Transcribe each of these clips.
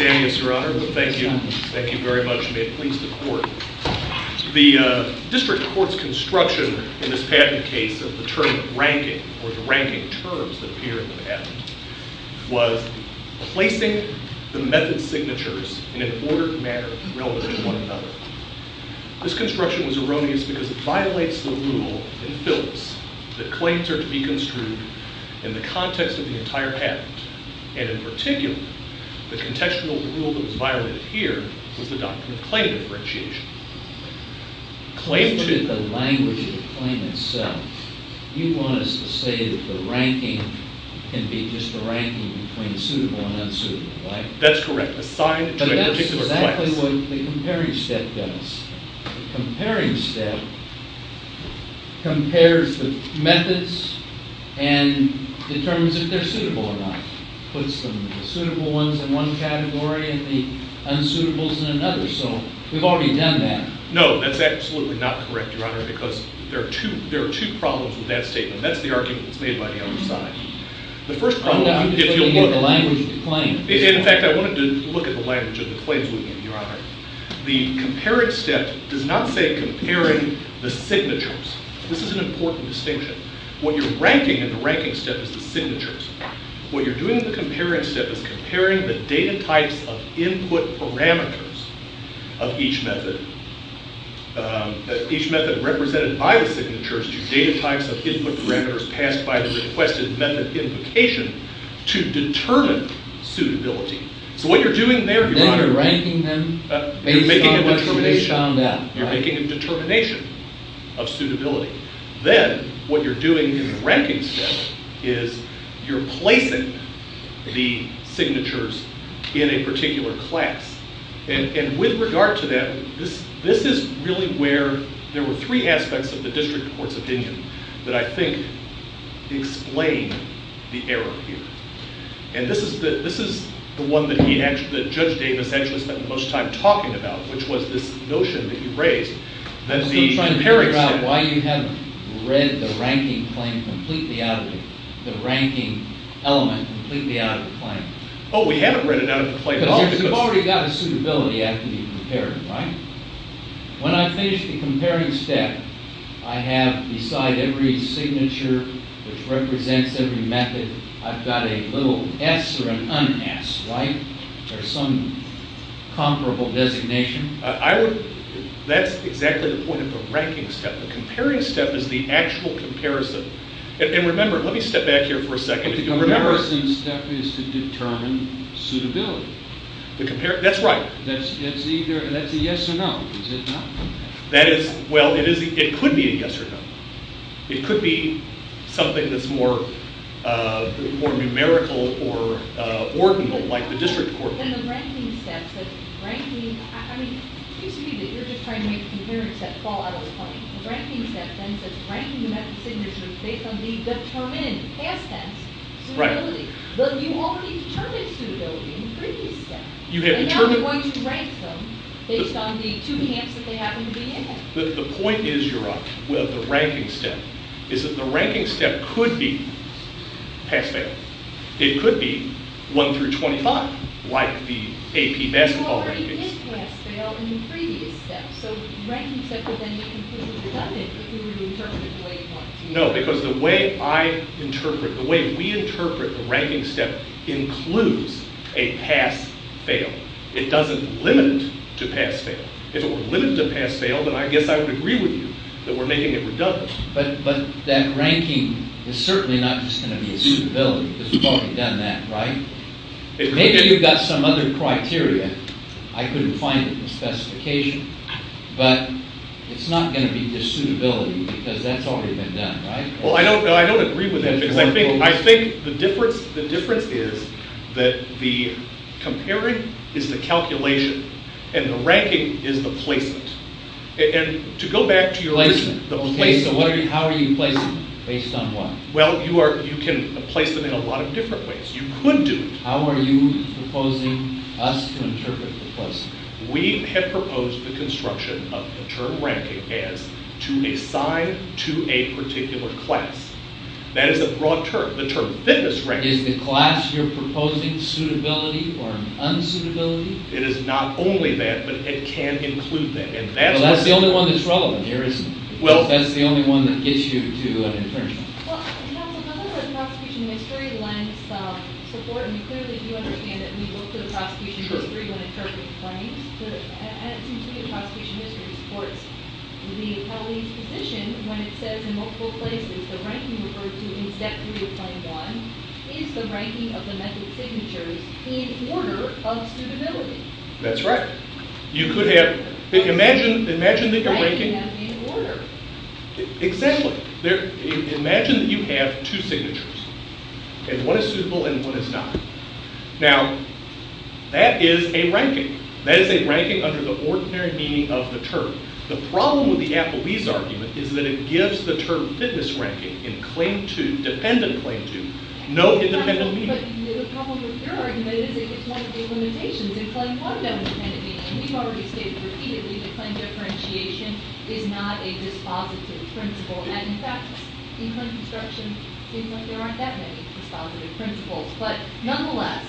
You're welcome. Thank you very much, may it please the court. The district court's construction in this patent case of the term ranking or the ranking terms that appear in the patent was placing the method signatures in an ordered manner relevant to one another. This construction was erroneous because it violates the rule in Phillips that claims are to be construed in the context of the entire patent. And in particular, the contextual rule that was violated here was the doctrine of claim differentiation. If you look at the language of the claim itself, you want us to say that the ranking can be just a ranking between suitable and unsuitable, right? That's correct, assigned to a particular claim. But that's exactly what the comparing step does. The comparing step compares the methods and determines if they're suitable or not. It puts the suitable ones in one category and the unsuitables in another. So we've already done that. No, that's absolutely not correct, Your Honor, because there are two problems with that statement. That's the argument that's made by the other side. The first problem is if you look at the language of the claim. In fact, I wanted to look at the language of the claims we gave, Your Honor. The comparing step does not say comparing the signatures. This is an important distinction. What you're ranking in the ranking step is the signatures. What you're doing in the comparing step is comparing the data types of input parameters of each method. Each method represented by the signatures to data types of input parameters passed by the requested method implication to determine suitability. So what you're doing there, Your Honor, is you're making a determination of suitability. Then what you're doing in the ranking step is you're placing the signatures in a particular class. And with regard to that, this is really where there were three aspects of the district court's opinion that I think explain the error here. And this is the one that Judge Davis actually spent the most time talking about, which was this notion that you raised. I'm still trying to figure out why you haven't read the ranking claim completely out of it, the ranking element completely out of the claim. Oh, we haven't read it out of the claim. Because you've already got a suitability act to be compared, right? When I finish the comparing step, I have beside every signature which represents every method, I've got a little S or an un-S, right? Or some comparable designation. That's exactly the point of the ranking step. The comparing step is the actual comparison. And remember, let me step back here for a second. But the comparison step is to determine suitability. That's right. That's a yes or no, is it not? Well, it could be a yes or no. It could be something that's more numerical or ordinal like the district court. In the ranking step, I mean, it seems to me that you're just trying to make the comparing step fall out of the claim. The ranking step then says ranking the method signatures based on the determined past tense suitability. But you already determined suitability in the previous step. And now you're going to rank them based on the two hands that they happen to be in. The point is, you're right, with the ranking step, is that the ranking step could be pass-fail. It could be 1 through 25 like the AP basketball rankings. You already did pass-fail in the previous step. So the ranking step would then be completely redundant if we were to interpret it the way you want it to be. No, because the way I interpret, the way we interpret the ranking step includes a pass-fail. It doesn't limit it to pass-fail. If it were limited to pass-fail, then I guess I would agree with you that we're making it redundant. But that ranking is certainly not just going to be a suitability because we've already done that, right? Maybe you've got some other criteria. I couldn't find it in the specification. But it's not going to be just suitability because that's already been done, right? Well, I don't agree with that because I think the difference is that the comparing is the calculation and the ranking is the placement. And to go back to your question, the placement. Okay, so how are you placing them based on what? Well, you can place them in a lot of different ways. You could do it. How are you proposing us to interpret the placement? We have proposed the construction of the term ranking as to assign to a particular class. That is a broad term, the term fitness ranking. Is the class you're proposing suitability or unsuitability? It is not only that, but it can include that. Well, that's the only one that's relevant here, isn't it? That's the only one that gets you to an internship. Well, counsel, in other words, prosecution history lends support. And you clearly do understand that we look to the prosecution history when interpreting rankings. And it seems to me that prosecution history supports the colleague's position when it says in multiple places, the ranking referred to in Step 3 of Plan 1 is the ranking of the method signatures in order of suitability. That's right. You could have – imagine that you're ranking – Ranking them in order. Exactly. Imagine that you have two signatures. And one is suitable and one is not. Now, that is a ranking. That is a ranking under the ordinary meaning of the term. The problem with the Applebee's argument is that it gives the term fitness ranking in claim 2, dependent claim 2, no independent meaning. But the problem with your argument is it gives one of the limitations in claim 1, that independent meaning. We've already stated repeatedly that claim differentiation is not a dispositive principle. And, in fact, in current construction, it seems like there aren't that many dispositive principles. But, nonetheless,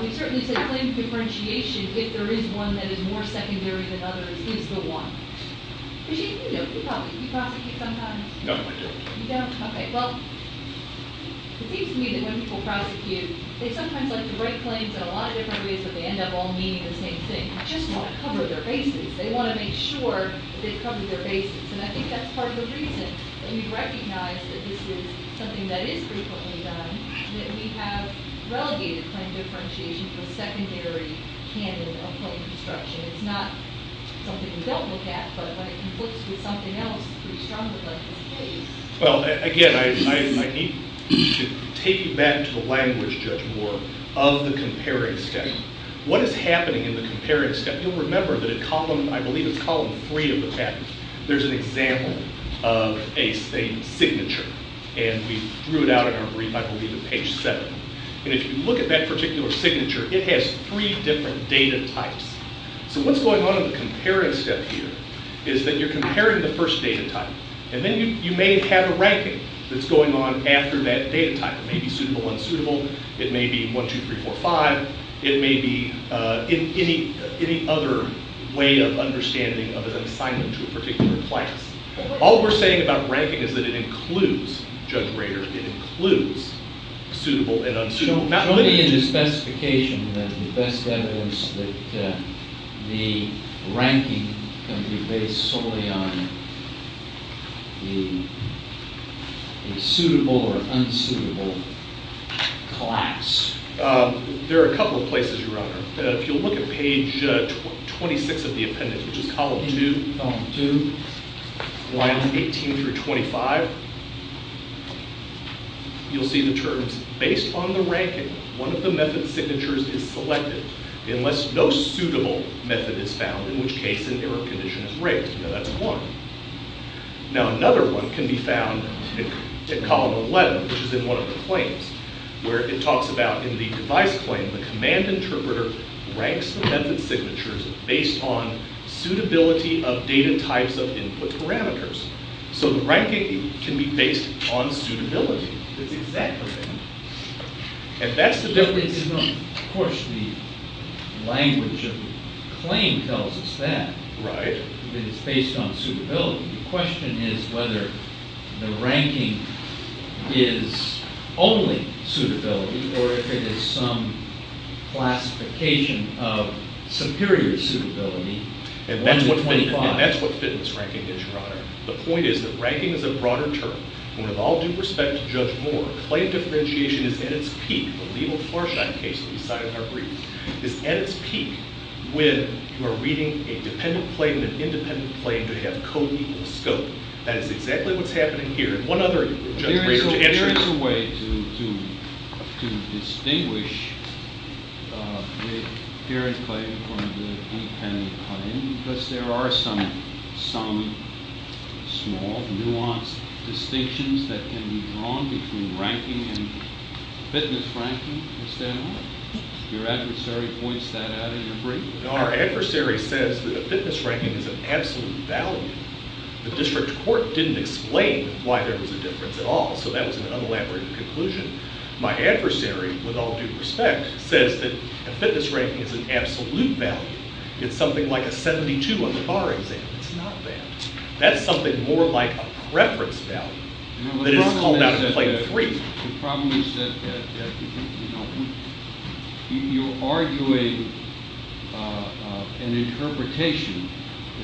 we certainly say claim differentiation, if there is one that is more secondary than others, is the one. You prosecute sometimes? No, I don't. You don't? Okay. Well, it seems to me that when people prosecute, they sometimes like to write claims in a lot of different ways, but they end up all meaning the same thing. They just want to cover their bases. They want to make sure that they've covered their bases. And I think that's part of the reason that we recognize that this is something that is frequently done, that we have relegated claim differentiation to a secondary candidate of claim construction. It's not something we don't look at, but when it conflicts with something else, it's pretty strongly like this case. Well, again, I need to take you back to the language, Judge Moore, of the comparing step. What is happening in the comparing step? You'll remember that in column, I believe it's column 3 of the package, there's an example of a signature. And we threw it out in our brief, I believe, at page 7. And if you look at that particular signature, it has three different data types. So what's going on in the comparing step here is that you're comparing the first data type. And then you may have a ranking that's going on after that data type. It may be suitable, unsuitable. It may be 1, 2, 3, 4, 5. It may be any other way of understanding of an assignment to a particular class. All we're saying about ranking is that it includes Judge Rader. It includes suitable and unsuitable. Not only is the specification that the best evidence that the ranking can be based solely on the suitable or unsuitable class. There are a couple of places, Your Honor. If you look at page 26 of the appendix, which is column 2, lines 18 through 25, you'll see the terms. Based on the ranking, one of the method signatures is selected unless no suitable method is found, in which case an error condition is raised. Now that's one. Now another one can be found in column 11, which is in one of the claims, where it talks about in the device claim, the command interpreter ranks the method signatures based on suitability of data types of input parameters. So the ranking can be based on suitability. That's exactly right. And that's the difference. Of course, the language of the claim tells us that. Right. That it's based on suitability. The question is whether the ranking is only suitability or if it is some classification of superior suitability. And that's what fitness ranking is, Your Honor. The point is that ranking is a broader term. And with all due respect to Judge Moore, claim differentiation is at its peak. The legal Florsheim case that we cited in our brief is at its peak when you are reading a dependent claim and an independent claim to have code equal scope. That is exactly what's happening here. And one other thing, Judge Brewer, to answer your question. There is a way to distinguish the parent claim from the independent claim because there are some small, nuanced distinctions that can be drawn between ranking and fitness ranking. Your adversary points that out in your brief. Our adversary says that a fitness ranking is an absolute value. The district court didn't explain why there was a difference at all. So that was an unelaborated conclusion. My adversary, with all due respect, says that a fitness ranking is an absolute value. It's something like a 72 on the bar exam. It's not that. That's something more like a preference value than it is called out of Claim 3. The problem is that you're arguing an interpretation,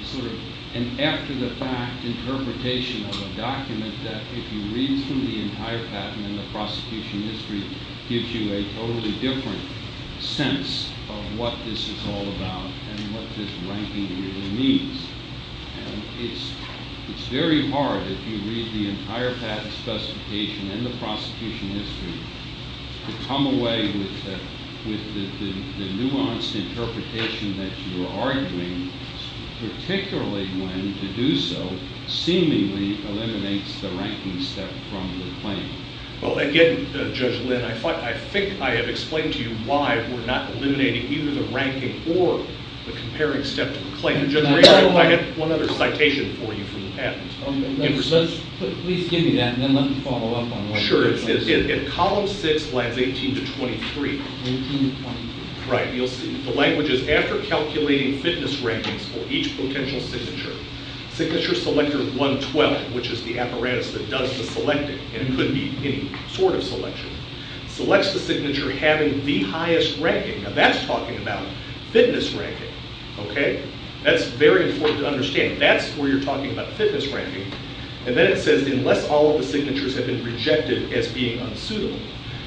sort of an after-the-fact interpretation of a document that if you read through the entire patent and the prosecution history, gives you a totally different sense of what this is all about and what this ranking really means. And it's very hard, if you read the entire patent specification and the prosecution history, to come away with the nuanced interpretation that you're arguing, particularly when to do so seemingly eliminates the ranking step from the claim. Well, again, Judge Lynn, I think I have explained to you why we're not eliminating either the ranking or the comparing step to the claim. Judge Regan, I have one other citation for you from the patent. Please give me that, and then let me follow up on what you just said. Sure. In column 6, lines 18 to 23. 18 to 23. Right. You'll see. The language is, after calculating fitness rankings for each potential signature, signature selector 112, which is the apparatus that does the selecting, and it could be any sort of selection, selects the signature having the highest ranking. Now, that's talking about fitness ranking. Okay? That's very important to understand. That's where you're talking about fitness ranking. And then it says, unless all of the signatures have been rejected as being unsuitable.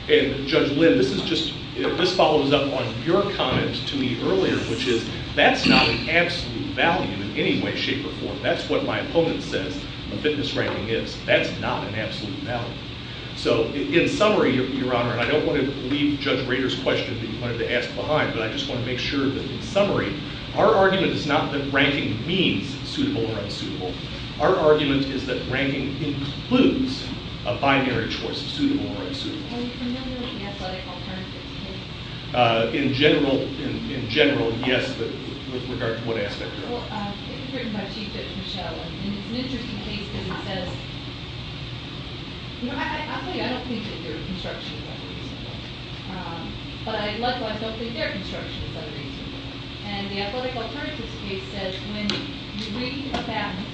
And, Judge Lynn, this follows up on your comment to me earlier, which is, that's not an absolute value in any way, shape, or form. That's what my opponent says the fitness ranking is. That's not an absolute value. So, in summary, Your Honor, and I don't want to leave Judge Rader's question that you wanted to ask behind, but I just want to make sure that, in summary, our argument is not that ranking means suitable or unsuitable. Our argument is that ranking includes a binary choice of suitable or unsuitable. Are you familiar with the athletic alternatives case? In general, yes, but with regard to what aspect? Well, it was written by Chief Judge Michel, and it's an interesting case because it says, you know, I'll tell you, I don't think that their construction is unreasonable. But I, likewise, don't think their construction is unreasonable. And the athletic alternatives case says, when you're reading a patent,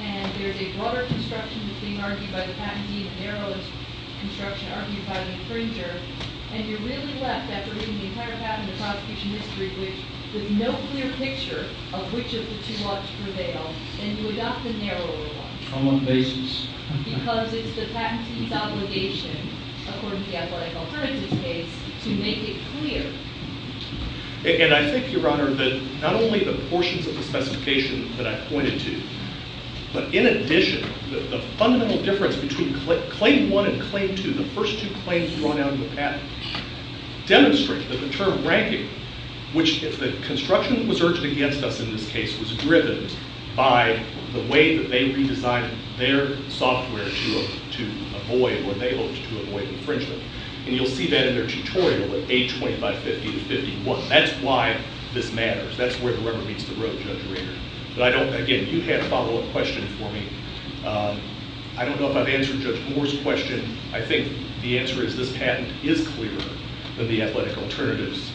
and there's a broader construction that's being argued by the patentee, a narrow construction argued by the infringer, and you're really left, after reading the entire patent, the prosecution history, with no clear picture of which of the two ought to prevail, and you adopt the narrower one. On what basis? Because it's the patentee's obligation, according to the athletic alternatives case, to make it clear. And I think, Your Honor, that not only the portions of the specification that I pointed to, but in addition, the fundamental difference between claim one and claim two, the first two claims drawn out of the patent, demonstrate that the term ranking, which, if the construction was urged against us in this case, was driven by the way that they redesigned their software to avoid, or they looked to avoid infringement. And you'll see that in their tutorial, A20 by 50 to 51. That's why this matters. That's where the rubber meets the road, Judge Reader. But I don't, again, you had a follow-up question for me. I don't know if I've answered Judge Moore's question. I think the answer is this patent is clearer than the athletic alternatives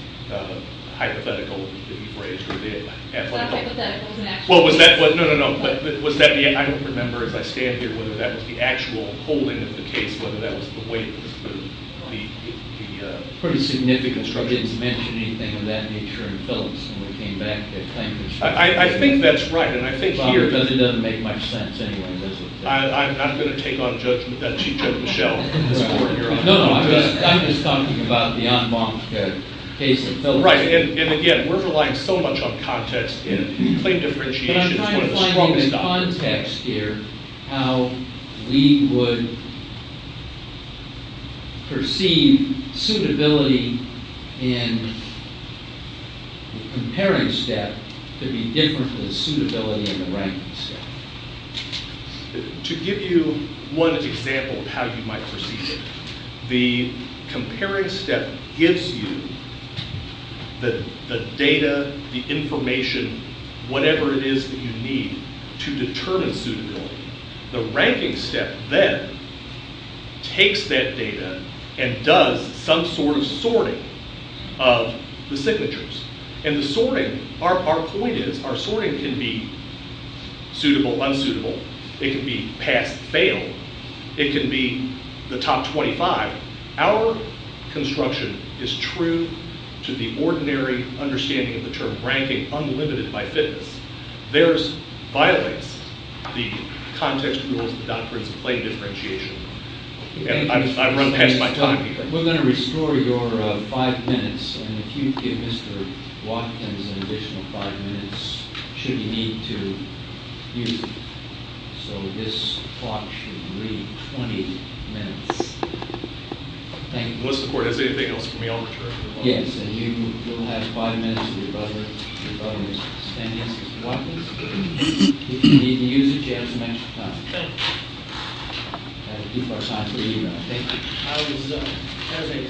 hypothetical that you've raised. It's not hypothetical. No, no, no. But I don't remember, as I stand here, whether that was the actual holding of the case, whether that was the weight of the structure. It's a pretty significant structure. I didn't mention anything of that nature in Phillips when we came back to claim the structure. I think that's right. Bob, it doesn't make much sense anyway, does it? I'm going to take on judgment that she joked with Michelle. No, no. I'm just talking about the en banc case in Phillips. Right. And, again, we're relying so much on context in claim differentiation. But I'm trying to find in context here how we would perceive suitability in the comparing step to be different from the suitability in the ranking step. To give you one example of how you might perceive it, the comparing step gives you the data, the information, whatever it is that you need to determine suitability. The ranking step then takes that data and does some sort of sorting of the signatures. And the sorting, our point is our sorting can be suitable, unsuitable. It can be pass, fail. It can be the top 25. Our construction is true to the ordinary understanding of the term ranking, unlimited by Phillips. Theirs violates the context rules of the doctrines of claim differentiation. And I've run past my time here. We're going to restore your five minutes. And if you give Mr. Watkins an additional five minutes, should he need to use it. So this clock should read 20 minutes. Thank you. Unless the court has anything else for me, I'll return. Yes, and you will have five minutes with your brother. Stand here, Mr. Watkins. If you need to use it, you have some extra time. Thank you. People are signing for you now. Thank you. I was, as a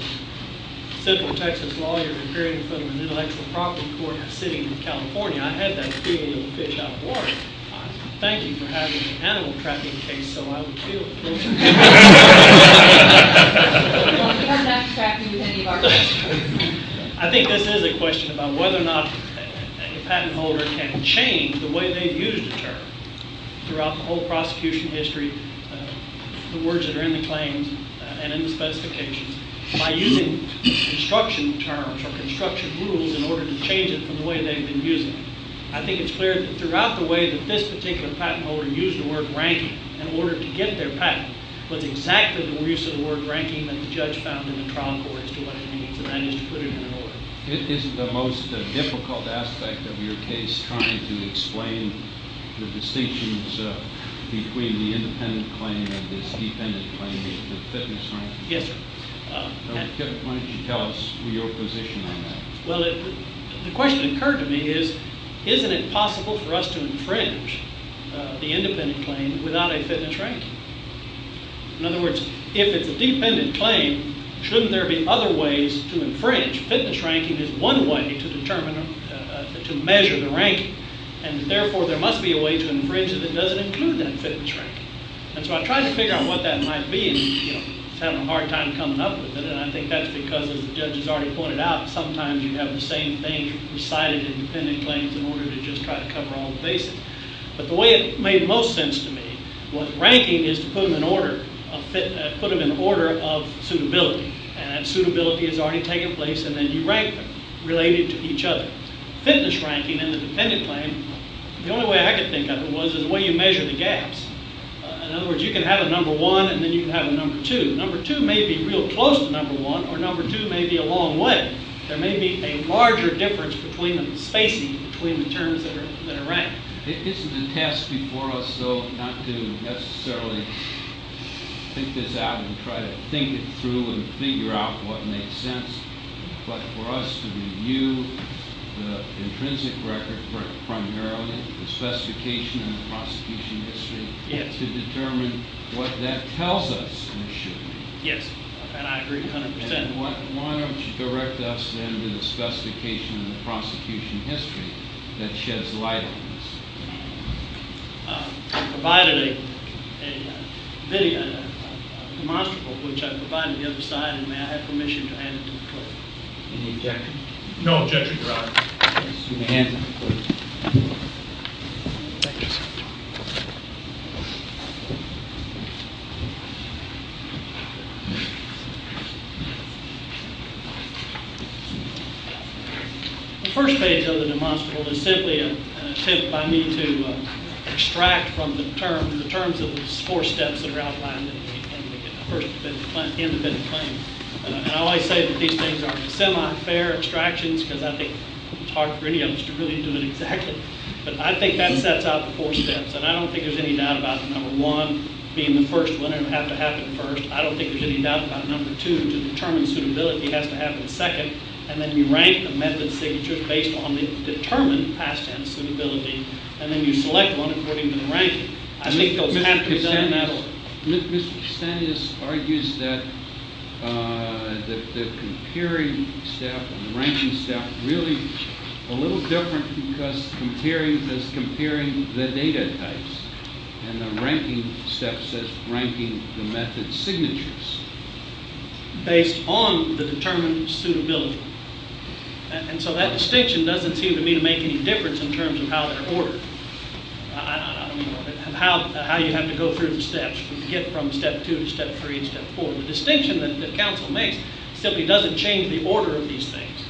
simple Texas lawyer appearing in front of an intellectual property court in a city in California, I had that feeling of a fish out of water. Thank you for having an animal tracking case so I would feel it. Well, we're not tracking any of our fish. I think this is a question about whether or not a patent holder can change the way they've used a term throughout the whole prosecution history, the words that are in the claims and in the specifications, by using construction terms or construction rules in order to change it from the way they've been using it. I think it's clear that throughout the way that this particular patent holder used the word ranking in order to get their patent was exactly the use of the word ranking that the judge found in the trial courts to what it means, and that is to put it in an order. Isn't the most difficult aspect of your case trying to explain the distinctions between the independent claim and this dependent claim, the fitness ranking? Yes, sir. Why don't you tell us your position on that? Well, the question that occurred to me is, isn't it possible for us to infringe the independent claim without a fitness ranking? In other words, if it's a dependent claim, shouldn't there be other ways to infringe? Fitness ranking is one way to measure the ranking, and therefore there must be a way to infringe it that doesn't include that fitness ranking. And so I tried to figure out what that might be, and I was having a hard time coming up with it, and I think that's because, as the judge has already pointed out, sometimes you have the same thing recited in dependent claims in order to just try to cover all the bases. But the way it made most sense to me was ranking is to put them in order of suitability, and suitability has already taken place, and then you rank them related to each other. Fitness ranking in the dependent claim, the only way I could think of it was the way you measure the gaps. In other words, you can have a number one and then you can have a number two. Number two may be real close to number one, or number two may be a long way. There may be a larger difference between the spacing between the terms that are ranked. Isn't the task before us, though, not to necessarily think this out and try to think it through and figure out what makes sense, but for us to review the intrinsic record primarily, the specification and the prosecution history to determine what that tells us it should be? Yes, and I agree 100%. Why don't you direct us, then, to the specification and the prosecution history that sheds light on this? I provided a video, a demonstrable, which I provided on the other side, and may I have permission to add it to the clip? Any objection? No objection, Your Honor. You may hand it over. The first page of the demonstrable is simply a tip by me to extract from the terms the four steps that are outlined in the independent claim. I always say that these things aren't semi-fair extractions because I think it's hard for any of us to really do it exactly, but I think that sets out the four steps, and I don't think there's any doubt about the number one being the first one, and it would have to happen first. I don't think there's any doubt about number two, to determine suitability, has to happen second, and then you rank a method signature based on the determined past tense suitability, and then you select one according to the rank. Mr. Cassandra argues that the comparing step and the ranking step are really a little different because comparing says comparing the data types, and the ranking step says ranking the method signatures. Based on the determined suitability. And so that distinction doesn't seem to me to make any difference in terms of how they're ordered. I don't know how you have to go through the steps to get from step two to step three and step four. The distinction that counsel makes simply doesn't change the order of these things.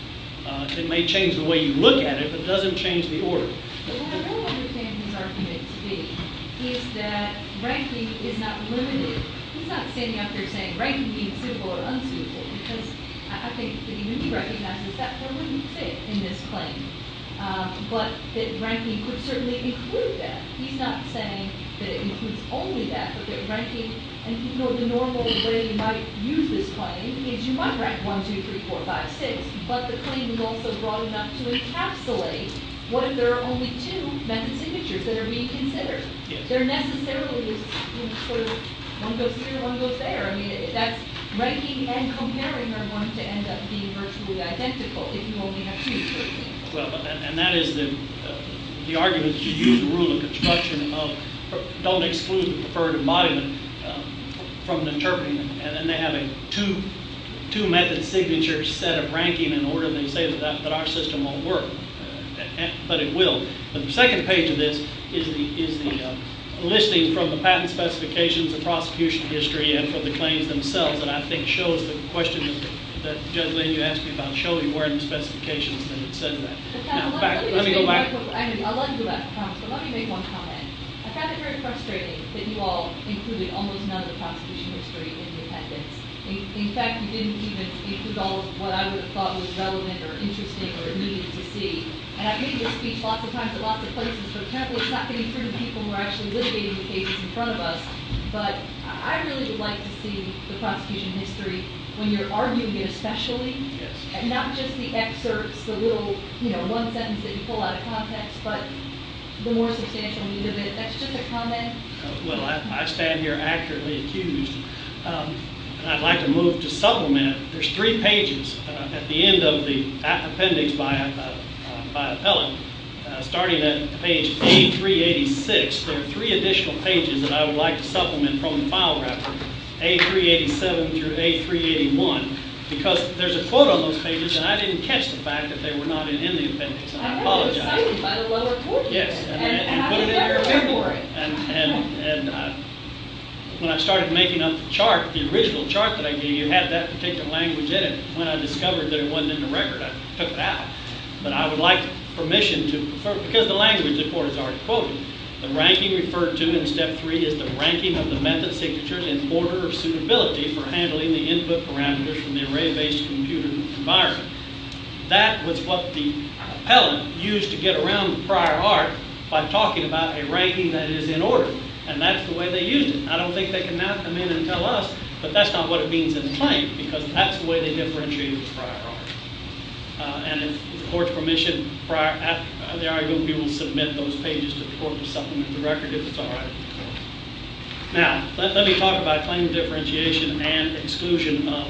It may change the way you look at it, but it doesn't change the order. But what I really understand his argument to be is that ranking is not limited. He's not standing up there saying ranking being suitable or unsuitable because I think that even he recognizes that four wouldn't fit in this claim, but that ranking could certainly include that. He's not saying that it includes only that, but that ranking, and the normal way you might use this claim is you might rank one, two, three, four, five, six, but the claim is also broad enough to encapsulate what if there are only two method signatures that are being considered. There necessarily is sort of one goes here, one goes there. I mean, that's ranking and comparing are going to end up being virtually identical if you only have two. And that is the argument to use the rule of construction and don't exclude the preferred embodiment from interpreting them, and then they have a two method signature set of ranking in order, and they say that our system won't work, but it will. The second page of this is the listing from the patent specifications, the prosecution history, and from the claims themselves that I think shows the question that Judge Lynn, you asked me about showing more in the specifications than it said in the patent. Let me go back. I'll let you do that, I promise, but let me make one comment. I found it very frustrating that you all included almost none of the prosecution history in the appendix. In fact, you didn't even include all of what I would have thought was relevant or interesting or needed to see, and I've made this speech lots of times at lots of places, but it's not getting through to people who are actually litigating the cases in front of us, but I really would like to see the prosecution history when you're arguing it especially, and not just the excerpts, the little, you know, one sentence that you pull out of context, but the more substantial need of it. That's just a comment. Well, I stand here accurately accused, and I'd like to move to supplement. There's three pages at the end of the appendix by appellant. Starting at page A386, there are three additional pages that I would like to supplement from the file record, A387 through A381, because there's a quote on those pages, and I didn't catch the fact that they were not in the appendix, and I apologize. I have it cited by the lower court. Yes, and put it in your memory. And when I started making up the chart, the original chart that I gave you had that particular language in it. When I discovered that it wasn't in the record, I took it out. But I would like permission to, because the language, the court has already quoted, the ranking referred to in step three is the ranking of the method signature in order of suitability for handling the input parameters from the array-based computer environment. That was what the appellant used to get around the prior art by talking about a ranking that is in order, and that's the way they used it. I don't think they can now come in and tell us, but that's not what it means in the claim, because that's the way they differentiated the prior art. And if the court's permission prior, they are going to be able to submit those pages to the court to supplement the record if it's all right with the court. Now, let me talk about claim differentiation and exclusion of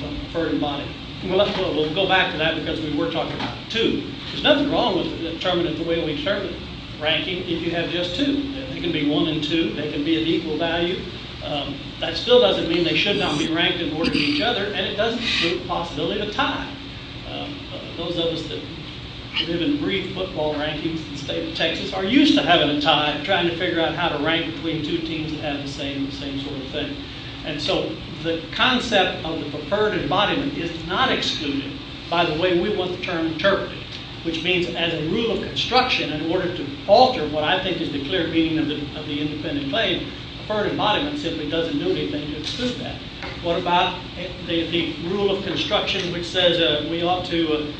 the preferred body. We'll go back to that because we were talking about two. There's nothing wrong with determining the way we determine ranking if you have just two. It can be one and two. They can be an equal value. That still doesn't mean they should not be ranked in order of each other, and it doesn't exclude the possibility of a tie. Those of us that live in brief football rankings in the state of Texas are used to having a tie and trying to figure out how to rank between two teams that have the same sort of thing. And so the concept of the preferred embodiment is not excluded by the way we want the term interpreted, which means as a rule of construction, in order to alter what I think is the clear meaning of the independent claim, preferred embodiment simply doesn't do anything to exclude that. What about the rule of construction which says we ought to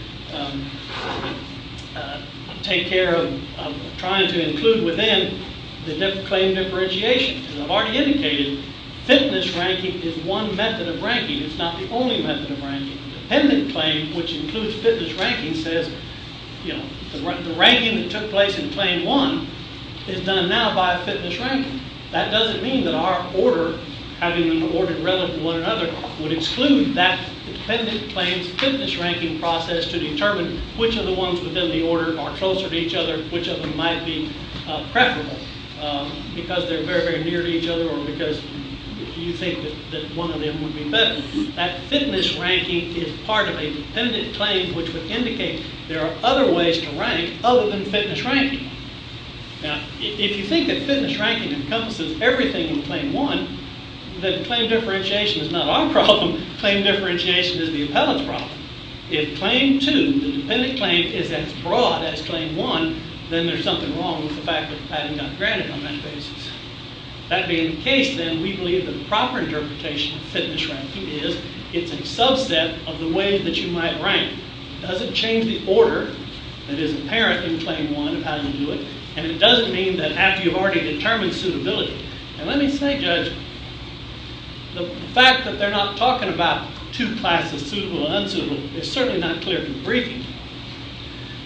take care of trying to include within the claim differentiation? As I've already indicated, fitness ranking is one method of ranking. It's not the only method of ranking. The dependent claim, which includes fitness ranking, says, you know, the ranking that took place in claim one is done now by a fitness ranking. That doesn't mean that our order, having an order relevant to one another, would exclude that dependent claim's fitness ranking process to determine which of the ones within the order are closer to each other, which of them might be preferable because they're very, very near to each other or because you think that one of them would be better. That fitness ranking is part of a dependent claim, which would indicate there are other ways to rank other than fitness ranking. Now, if you think that fitness ranking encompasses everything in claim one, then claim differentiation is not our problem. Claim differentiation is the appellate's problem. If claim two, the dependent claim, is as broad as claim one, then there's something wrong with the fact that Padden got granted on that basis. That being the case, then, we believe that the proper interpretation of fitness ranking is it's a subset of the way that you might rank. It doesn't change the order that is apparent in claim one of how you do it, and it doesn't mean that after you've already determined suitability. And let me say, Judge, the fact that they're not talking about two classes, suitable and unsuitable, is certainly not clear from the briefing.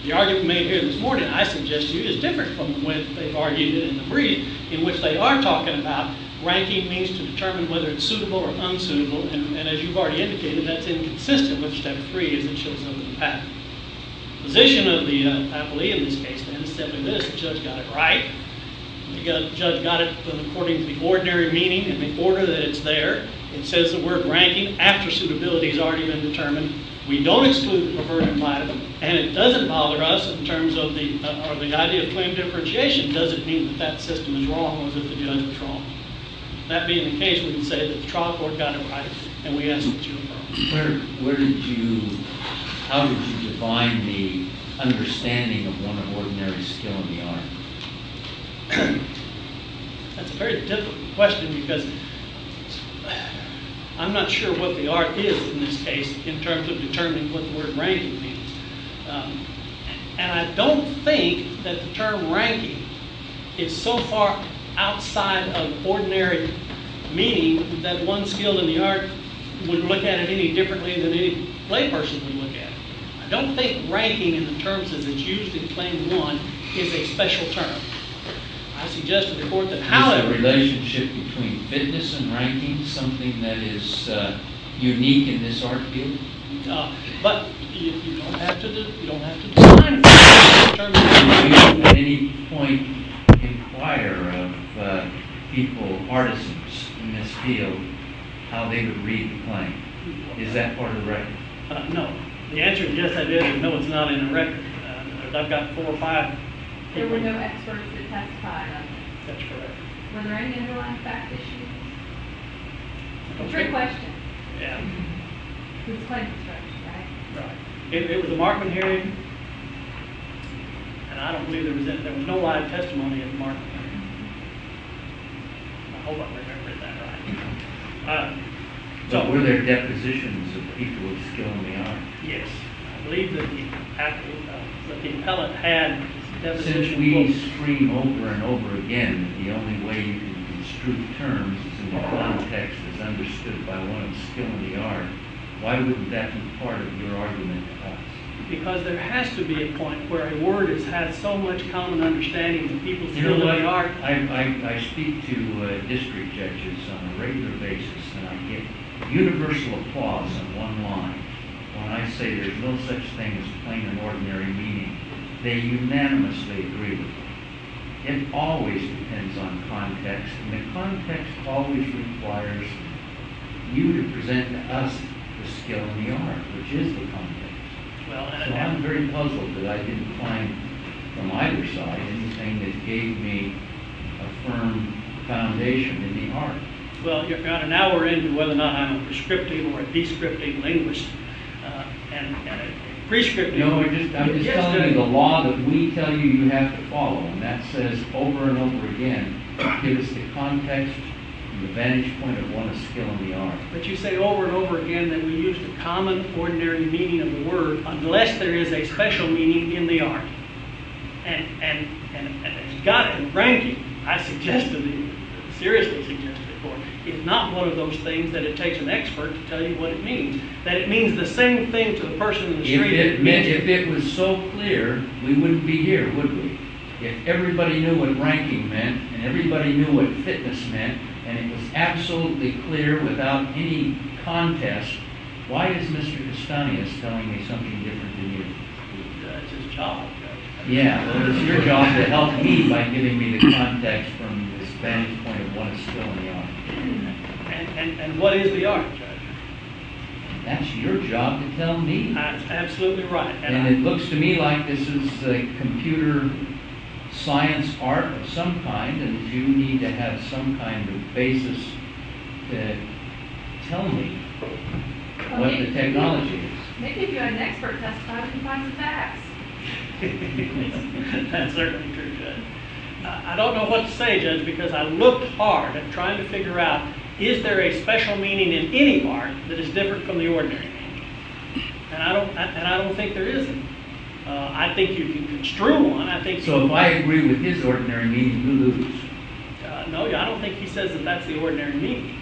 The argument made here this morning, I suggest to you, is different from when they argued it in the briefing, in which they are talking about ranking means to determine whether it's suitable or unsuitable, and as you've already indicated, that's inconsistent with step three, as it shows up in the patent. The position of the appellee in this case, then, is simply this. The judge got it right. The judge got it according to the ordinary meaning and the order that it's there. It says the word ranking after suitability has already been determined. We don't exclude the preferred environment, and it doesn't bother us in terms of the idea of claim differentiation. It doesn't mean that that system is wrong or that the other is wrong. That being the case, we can say that the trial court got it right, and we ask that you approve. Where did you, how did you define the understanding of one of ordinary skill in the art? That's a very difficult question because I'm not sure what the art is in this case in terms of determining what the word ranking means. And I don't think that the term ranking is so far outside of ordinary meaning that one skill in the art would look at it any differently than any play person would look at it. I don't think ranking in the terms as it's used in claim one is a special term. I suggest to the court that however... Is the relationship between fitness and ranking something that is unique in this art field? But if you don't have to do it, you don't have to do it. Did you at any point inquire of people, artisans in this field, how they would read the claim? Is that part of the record? No. The answer to yes I did is no it's not in the record. I've got four or five... There were no experts to testify on this. That's correct. Were there any underlying fact issues? Trick question. Yeah. It's quite a stretch, right? Right. It was a Markman hearing. And I don't believe there was no live testimony of Markman. I hope I remembered that right. So were there depositions of people of skill in the art? Yes. I believe that the appellate had... Since we scream over and over again that the only way to construe terms is if one text is understood by one of skill in the art, why wouldn't that be part of your argument? Because there has to be a point where a word has had so much common understanding and people still know the art. I speak to district judges on a regular basis and I get universal applause on one line when I say there's no such thing as plain and ordinary meaning. They unanimously agree with me. It always depends on context. And the context always requires you to present to us the skill in the art, which is the context. So I'm very puzzled that I didn't find, from either side, anything that gave me a firm foundation in the art. Well, Your Honor, now we're into whether or not I'm a prescriptive or a prescriptive linguist. Prescriptive... No, I'm just telling you the law that we tell you you have to follow and that says over and over again, give us the context and the vantage point of what is skill in the art. But you say over and over again that we use the common, ordinary meaning of the word unless there is a special meaning in the art. And got it. And Frankie, I suggest to you, seriously suggest it. It's not one of those things that it takes an expert to tell you what it means. That it means the same thing to the person in the street. If it was so clear, we wouldn't be here, would we? If everybody knew what ranking meant, and everybody knew what fitness meant, and it was absolutely clear without any contest, why is Mr. Dastanius telling me something different than you? It's his job, Judge. Yeah, well, it's your job to help me by giving me the context from the vantage point of what is skill in the art. And what is the art, Judge? That's your job to tell me. That's absolutely right. And it looks to me like this is the computer science art of some kind, and you need to have some kind of basis to tell me what the technology is. Maybe if you had an expert testify, we can find the facts. That's certainly true, Judge. I don't know what to say, Judge, because I looked hard at trying to figure out is there a special meaning in any art that is different from the ordinary meaning? And I don't think there isn't. I think you can construe one. So if I agree with his ordinary meaning, who loses? No, I don't think he says that that's the ordinary meaning.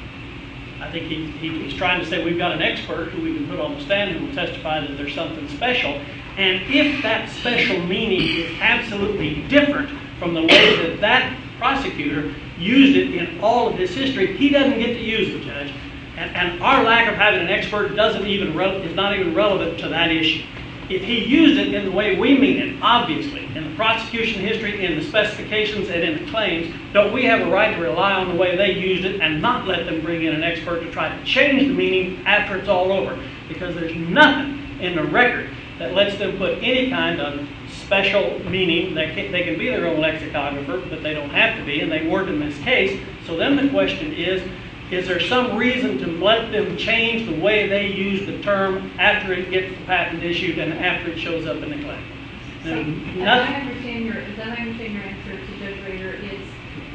I think he's trying to say we've got an expert who we can put on the stand and we'll testify that there's something special. And if that special meaning is absolutely different from the way that that prosecutor used it in all of his history, he doesn't get to use it, Judge. And our lack of having an expert is not even relevant to that issue. If he used it in the way we mean it, obviously, in the prosecution history, in the specifications, and in the claims, don't we have a right to rely on the way they used it and not let them bring in an expert to try to change the meaning after it's all over? Because there's nothing in the record that lets them put any kind of special meaning. They can be their own lexicographer, but they don't have to be, and they weren't in this case. So then the question is, is there some reason to let them change the way they use the term after it gets patent issued and after it shows up in the claim? So, as I understand your answer to Judge Rader, it's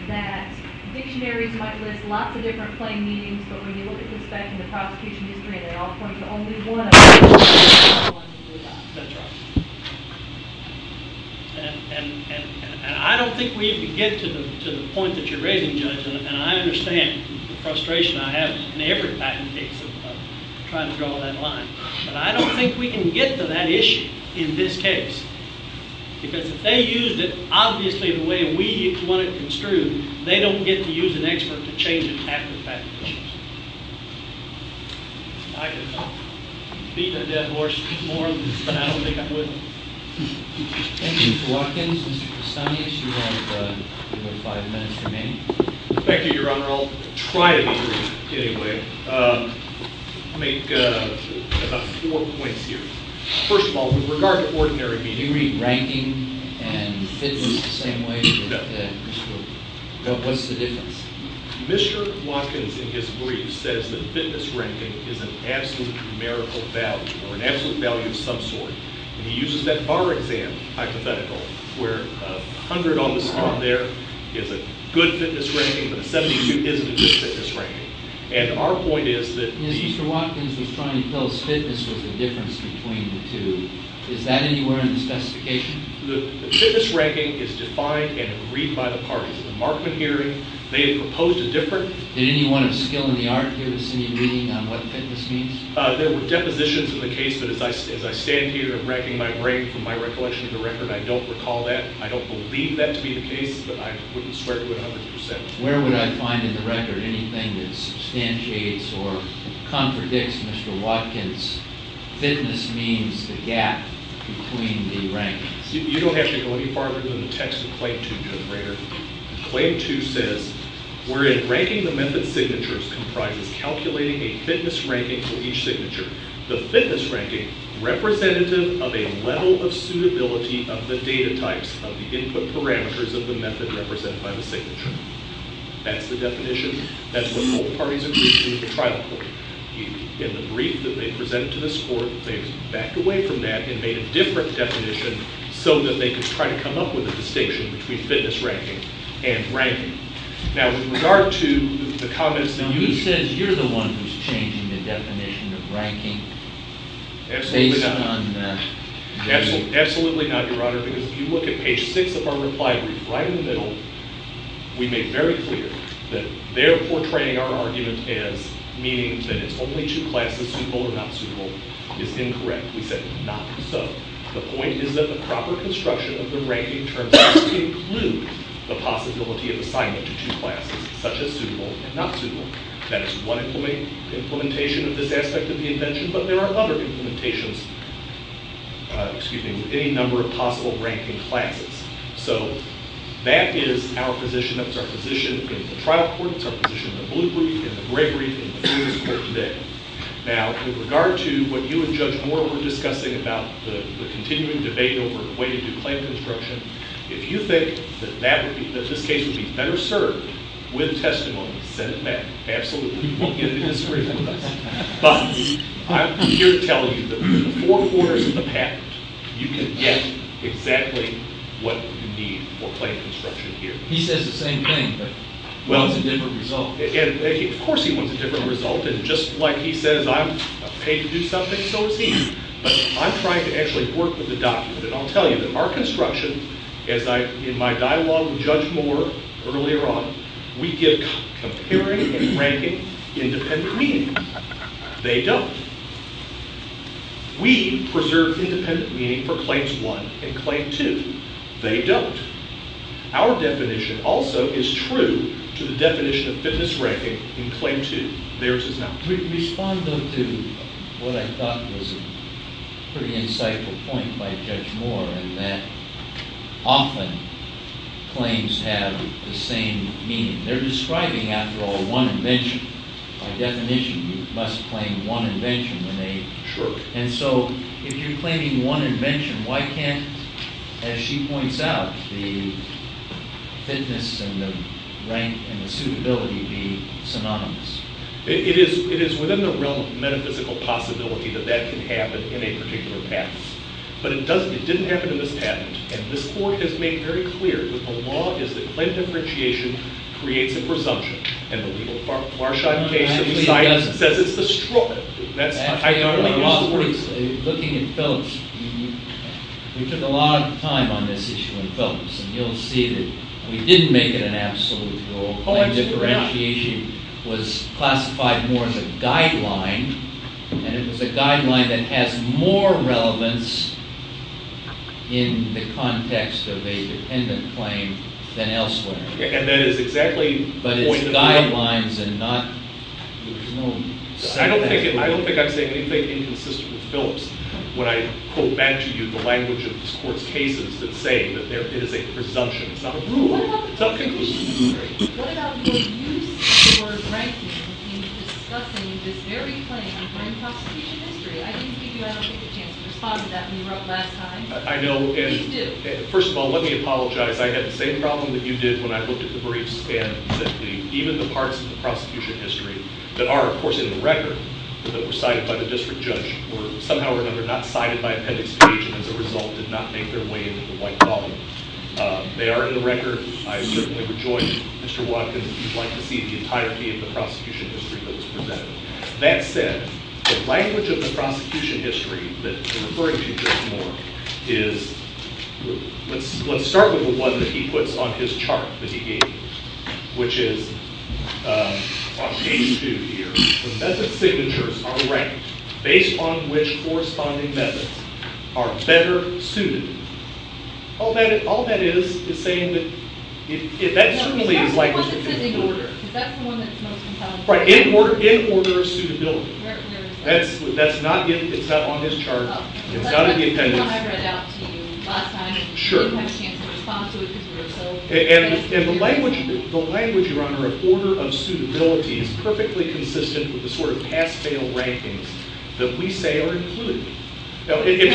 that dictionaries might list lots of different claim meanings, but when you look at the spec in the prosecution history, they all point to only one of them. That's right. And I don't think we can get to the point that you're raising, Judge, and I understand the frustration I have in every patent case of trying to draw that line, but I don't think we can get to that issue in this case. Because if they used it, obviously, the way we want it construed, they don't get to use an expert to change it after the patent issues. I could beat a dead horse more, but I don't think I would. Thank you, Mr. Watkins. Mr. Prestonius, you have about five minutes remaining. Thank you, Your Honor. I'll try to be brief anyway. I'll make about four points here. First of all, with regard to ordinary meaning. Do you mean ranking and fitness the same way? No. What's the difference? Mr. Watkins, in his brief, says that fitness ranking is an absolute numerical value or an absolute value of some sort. And he uses that bar exam hypothetical where 100 on the spot there is a good fitness ranking, but a 72 isn't a good fitness ranking. And our point is that these— Yes, Mr. Watkins was trying to tell us fitness was the difference between the two. Is that anywhere in the specification? The fitness ranking is defined and agreed by the parties. In the Markman hearing, they had proposed a different— Did anyone of skill in the art give us any reading on what fitness means? There were depositions in the case, but as I stand here, I'm racking my brain from my recollection of the record. I don't recall that. I don't believe that to be the case, but I wouldn't swear to it 100%. Where would I find in the record anything that substantiates or contradicts Mr. Watkins' fitness means, the gap between the rankings? You don't have to go any farther than the text of Claim 2, Judge Rayner. Claim 2 says, wherein ranking the method's signatures comprises calculating a fitness ranking for each signature, the fitness ranking representative of a level of suitability of the data types of the input parameters of the method represented by the signature. That's the definition. That's what both parties agreed to at the trial court. In the brief that they presented to this court, they backed away from that and made a different definition so that they could try to come up with a distinction between fitness ranking and ranking. Now, with regard to the comments that you made. He says you're the one who's changing the definition of ranking based on the data. Absolutely not, Your Honor, because if you look at page 6 of our reply brief, right in the middle, we make very clear that they're portraying our argument as meaning that it's only two classes, whether it's suitable or not suitable is incorrect. We said not so. The point is that the proper construction of the ranking terms include the possibility of assignment to two classes, such as suitable and not suitable. That is one implementation of this aspect of the invention, but there are other implementations with any number of possible ranking classes. So that is our position. That's our position in the trial court. That's our position in the blue brief, in the gray brief, and in this court today. Now, with regard to what you and Judge Moore were discussing about the continuing debate over a way to do claim construction, if you think that this case would be better served with testimony, send it back. Absolutely you won't get a disagreement with us. But I'm here to tell you that in the four quarters of the patent, you can get exactly what you need for claim construction here. He says the same thing, but wants a different result. Of course he wants a different result. And just like he says I'm paid to do something, so is he. But I'm trying to actually work with the document. And I'll tell you that our construction, as in my dialogue with Judge Moore earlier on, we give comparing and ranking independent meaning. They don't. We preserve independent meaning for Claims 1 and Claim 2. They don't. Our definition also is true to the definition of fitness ranking in Claim 2. Theirs is not. Respond, though, to what I thought was a pretty insightful point by Judge Moore, in that often claims have the same meaning. They're describing, after all, one invention. By definition, you must claim one invention when they... Sure. And so if you're claiming one invention, why can't, as she points out, the fitness and the rank and the suitability be synonymous? It is within the realm of metaphysical possibility that that can happen in a particular patent. But it didn't happen in this patent. And this Court has made very clear that the law is that claim differentiation creates a presumption. And the legal Farshad case that we cite says it's the stroke. Actually, looking at Phelps, we took a lot of time on this issue in Phelps, and you'll see that we didn't make it an absolute rule. Claim differentiation was classified more as a guideline, and it was a guideline that has more relevance in the context of a dependent claim than elsewhere. And that is exactly the point of the law. But it's guidelines and not... I don't think I'm saying anything inconsistent with Phelps. When I quote back to you the language of this Court's cases, it's saying that it is a presumption. It's not a rule. It's not a conclusion. What about your use of the word ranking in discussing this very claim of grand prosecution history? I didn't give you an opportunity to respond to that when you wrote last time. I know. You do. First of all, let me apologize. I had the same problem that you did when I looked at the briefs, and that even the parts of the prosecution history that are, of course, in the record, that were cited by the district judge, were somehow or another not cited by appendix H, and as a result did not make their way into the white volume. They are in the record. I certainly rejoin Mr. Watkins. He'd like to see the entirety of the prosecution history that was presented. That said, the language of the prosecution history that I'm referring to just more is... Let's start with the one that he puts on his chart that he gave you, which is on page two here. The method signatures are ranked based on which corresponding methods are better suited. All that is saying that that certainly is likely to be in order. That's the one that's most compelling. Right. In order suitability. That's not on his chart. It's not in the appendix. Sure. And the language, Your Honor, of order of suitability is perfectly consistent with the sort of pass-fail rankings that we say are included. Now if you...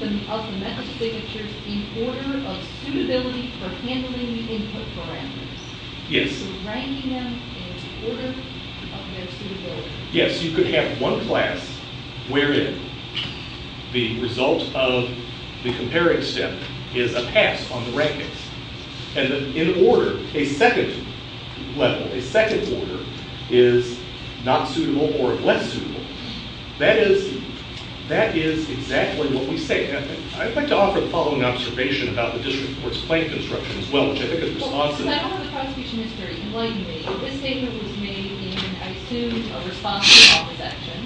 Ranking of the method signatures in order of suitability for handling input parameters. Yes. So ranking them in order of their suitability. Yes, you could have one class wherein the result of the comparing step is a pass on the rankings. And in order, a second level, a second order is not suitable or less suitable. That is exactly what we say. I'd like to offer the following observation about the district court's claim construction as well. I don't know the prosecution history. Enlighten me. This statement was made in, I assume, a response to an office action.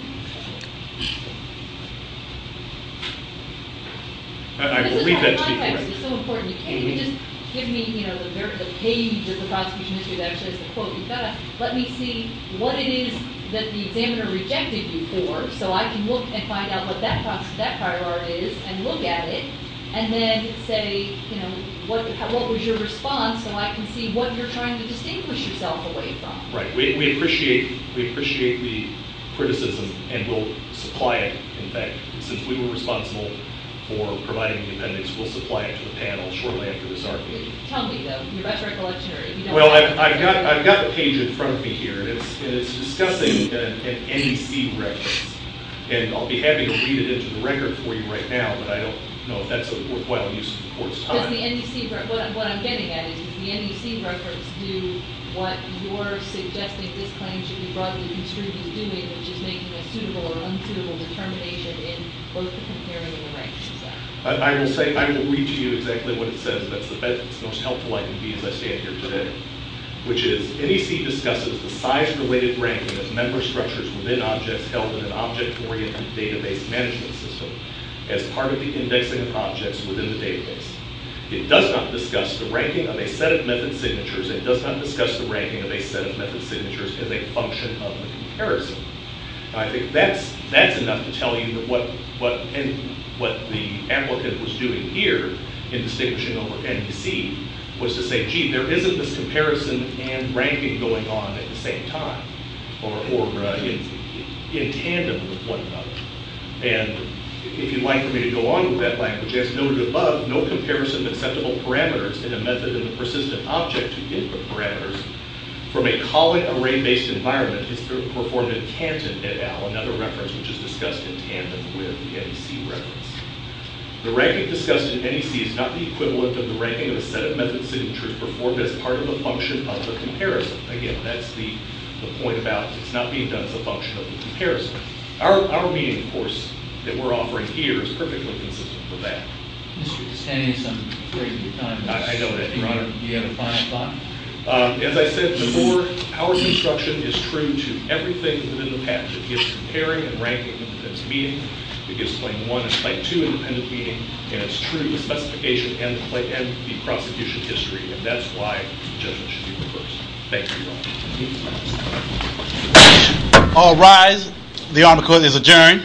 I believe that to be correct. This is so important. You can't even just give me, you know, the page of the prosecution history that actually has the quote. You've got to let me see what it is that the examiner rejected you for so I can look and find out what that prior art is and look at it and then say, you know, what was your response so I can see what you're trying to distinguish yourself away from. Right. We appreciate the criticism and we'll supply it. In fact, since we were responsible for providing the appendix, we'll supply it to the panel shortly after this argument. Tell me, though. You're about to write the legendary. Well, I've got the page in front of me here and it's discussing an NEC record. And I'll be happy to read it into the record for you right now, but I don't know if that's a worthwhile use of the court's time. Because the NEC, what I'm getting at is the NEC records do what you're suggesting this claim should be broadly construed as doing, which is making a suitable or unsuitable determination in both comparing the ranks. I will say, I will read to you exactly what it says. That's the best, most helpful I can be as I stand here today, which is NEC discusses the size-related ranking of member structures within objects held in an object-oriented database management system as part of the indexing of objects within the database. It does not discuss the ranking of a set of method signatures. It does not discuss the ranking of a set of method signatures as a function of comparison. I think that's enough to tell you that what the applicant was doing here in distinguishing over NEC was to say, gee, there isn't this comparison and ranking going on at the same time or in tandem with one another. And if you'd like me to go on with that language, as noted above, no comparison of acceptable parameters in a method in a persistent object to input parameters from a calling array-based environment is performed in Tanton et al., another reference which is discussed in tandem with the NEC reference. The ranking discussed in NEC is not the equivalent of the ranking of a set of method signatures performed as part of a function of the comparison. Again, that's the point about it's not being done as a function of the comparison. Our meeting, of course, that we're offering here is perfectly consistent with that. Mr. Castanis, I'm afraid your time is up. I know that. Your Honor, do you have a final thought? As I said before, our construction is true to everything within the patent. It gives the pairing and ranking of the defense meeting. It gives Claim 1 and Claim 2 independent meeting. And it's true to the specification and the prosecution history. And that's why the judgment should be reversed. Thank you, Your Honor. All rise. The honor court is adjourned.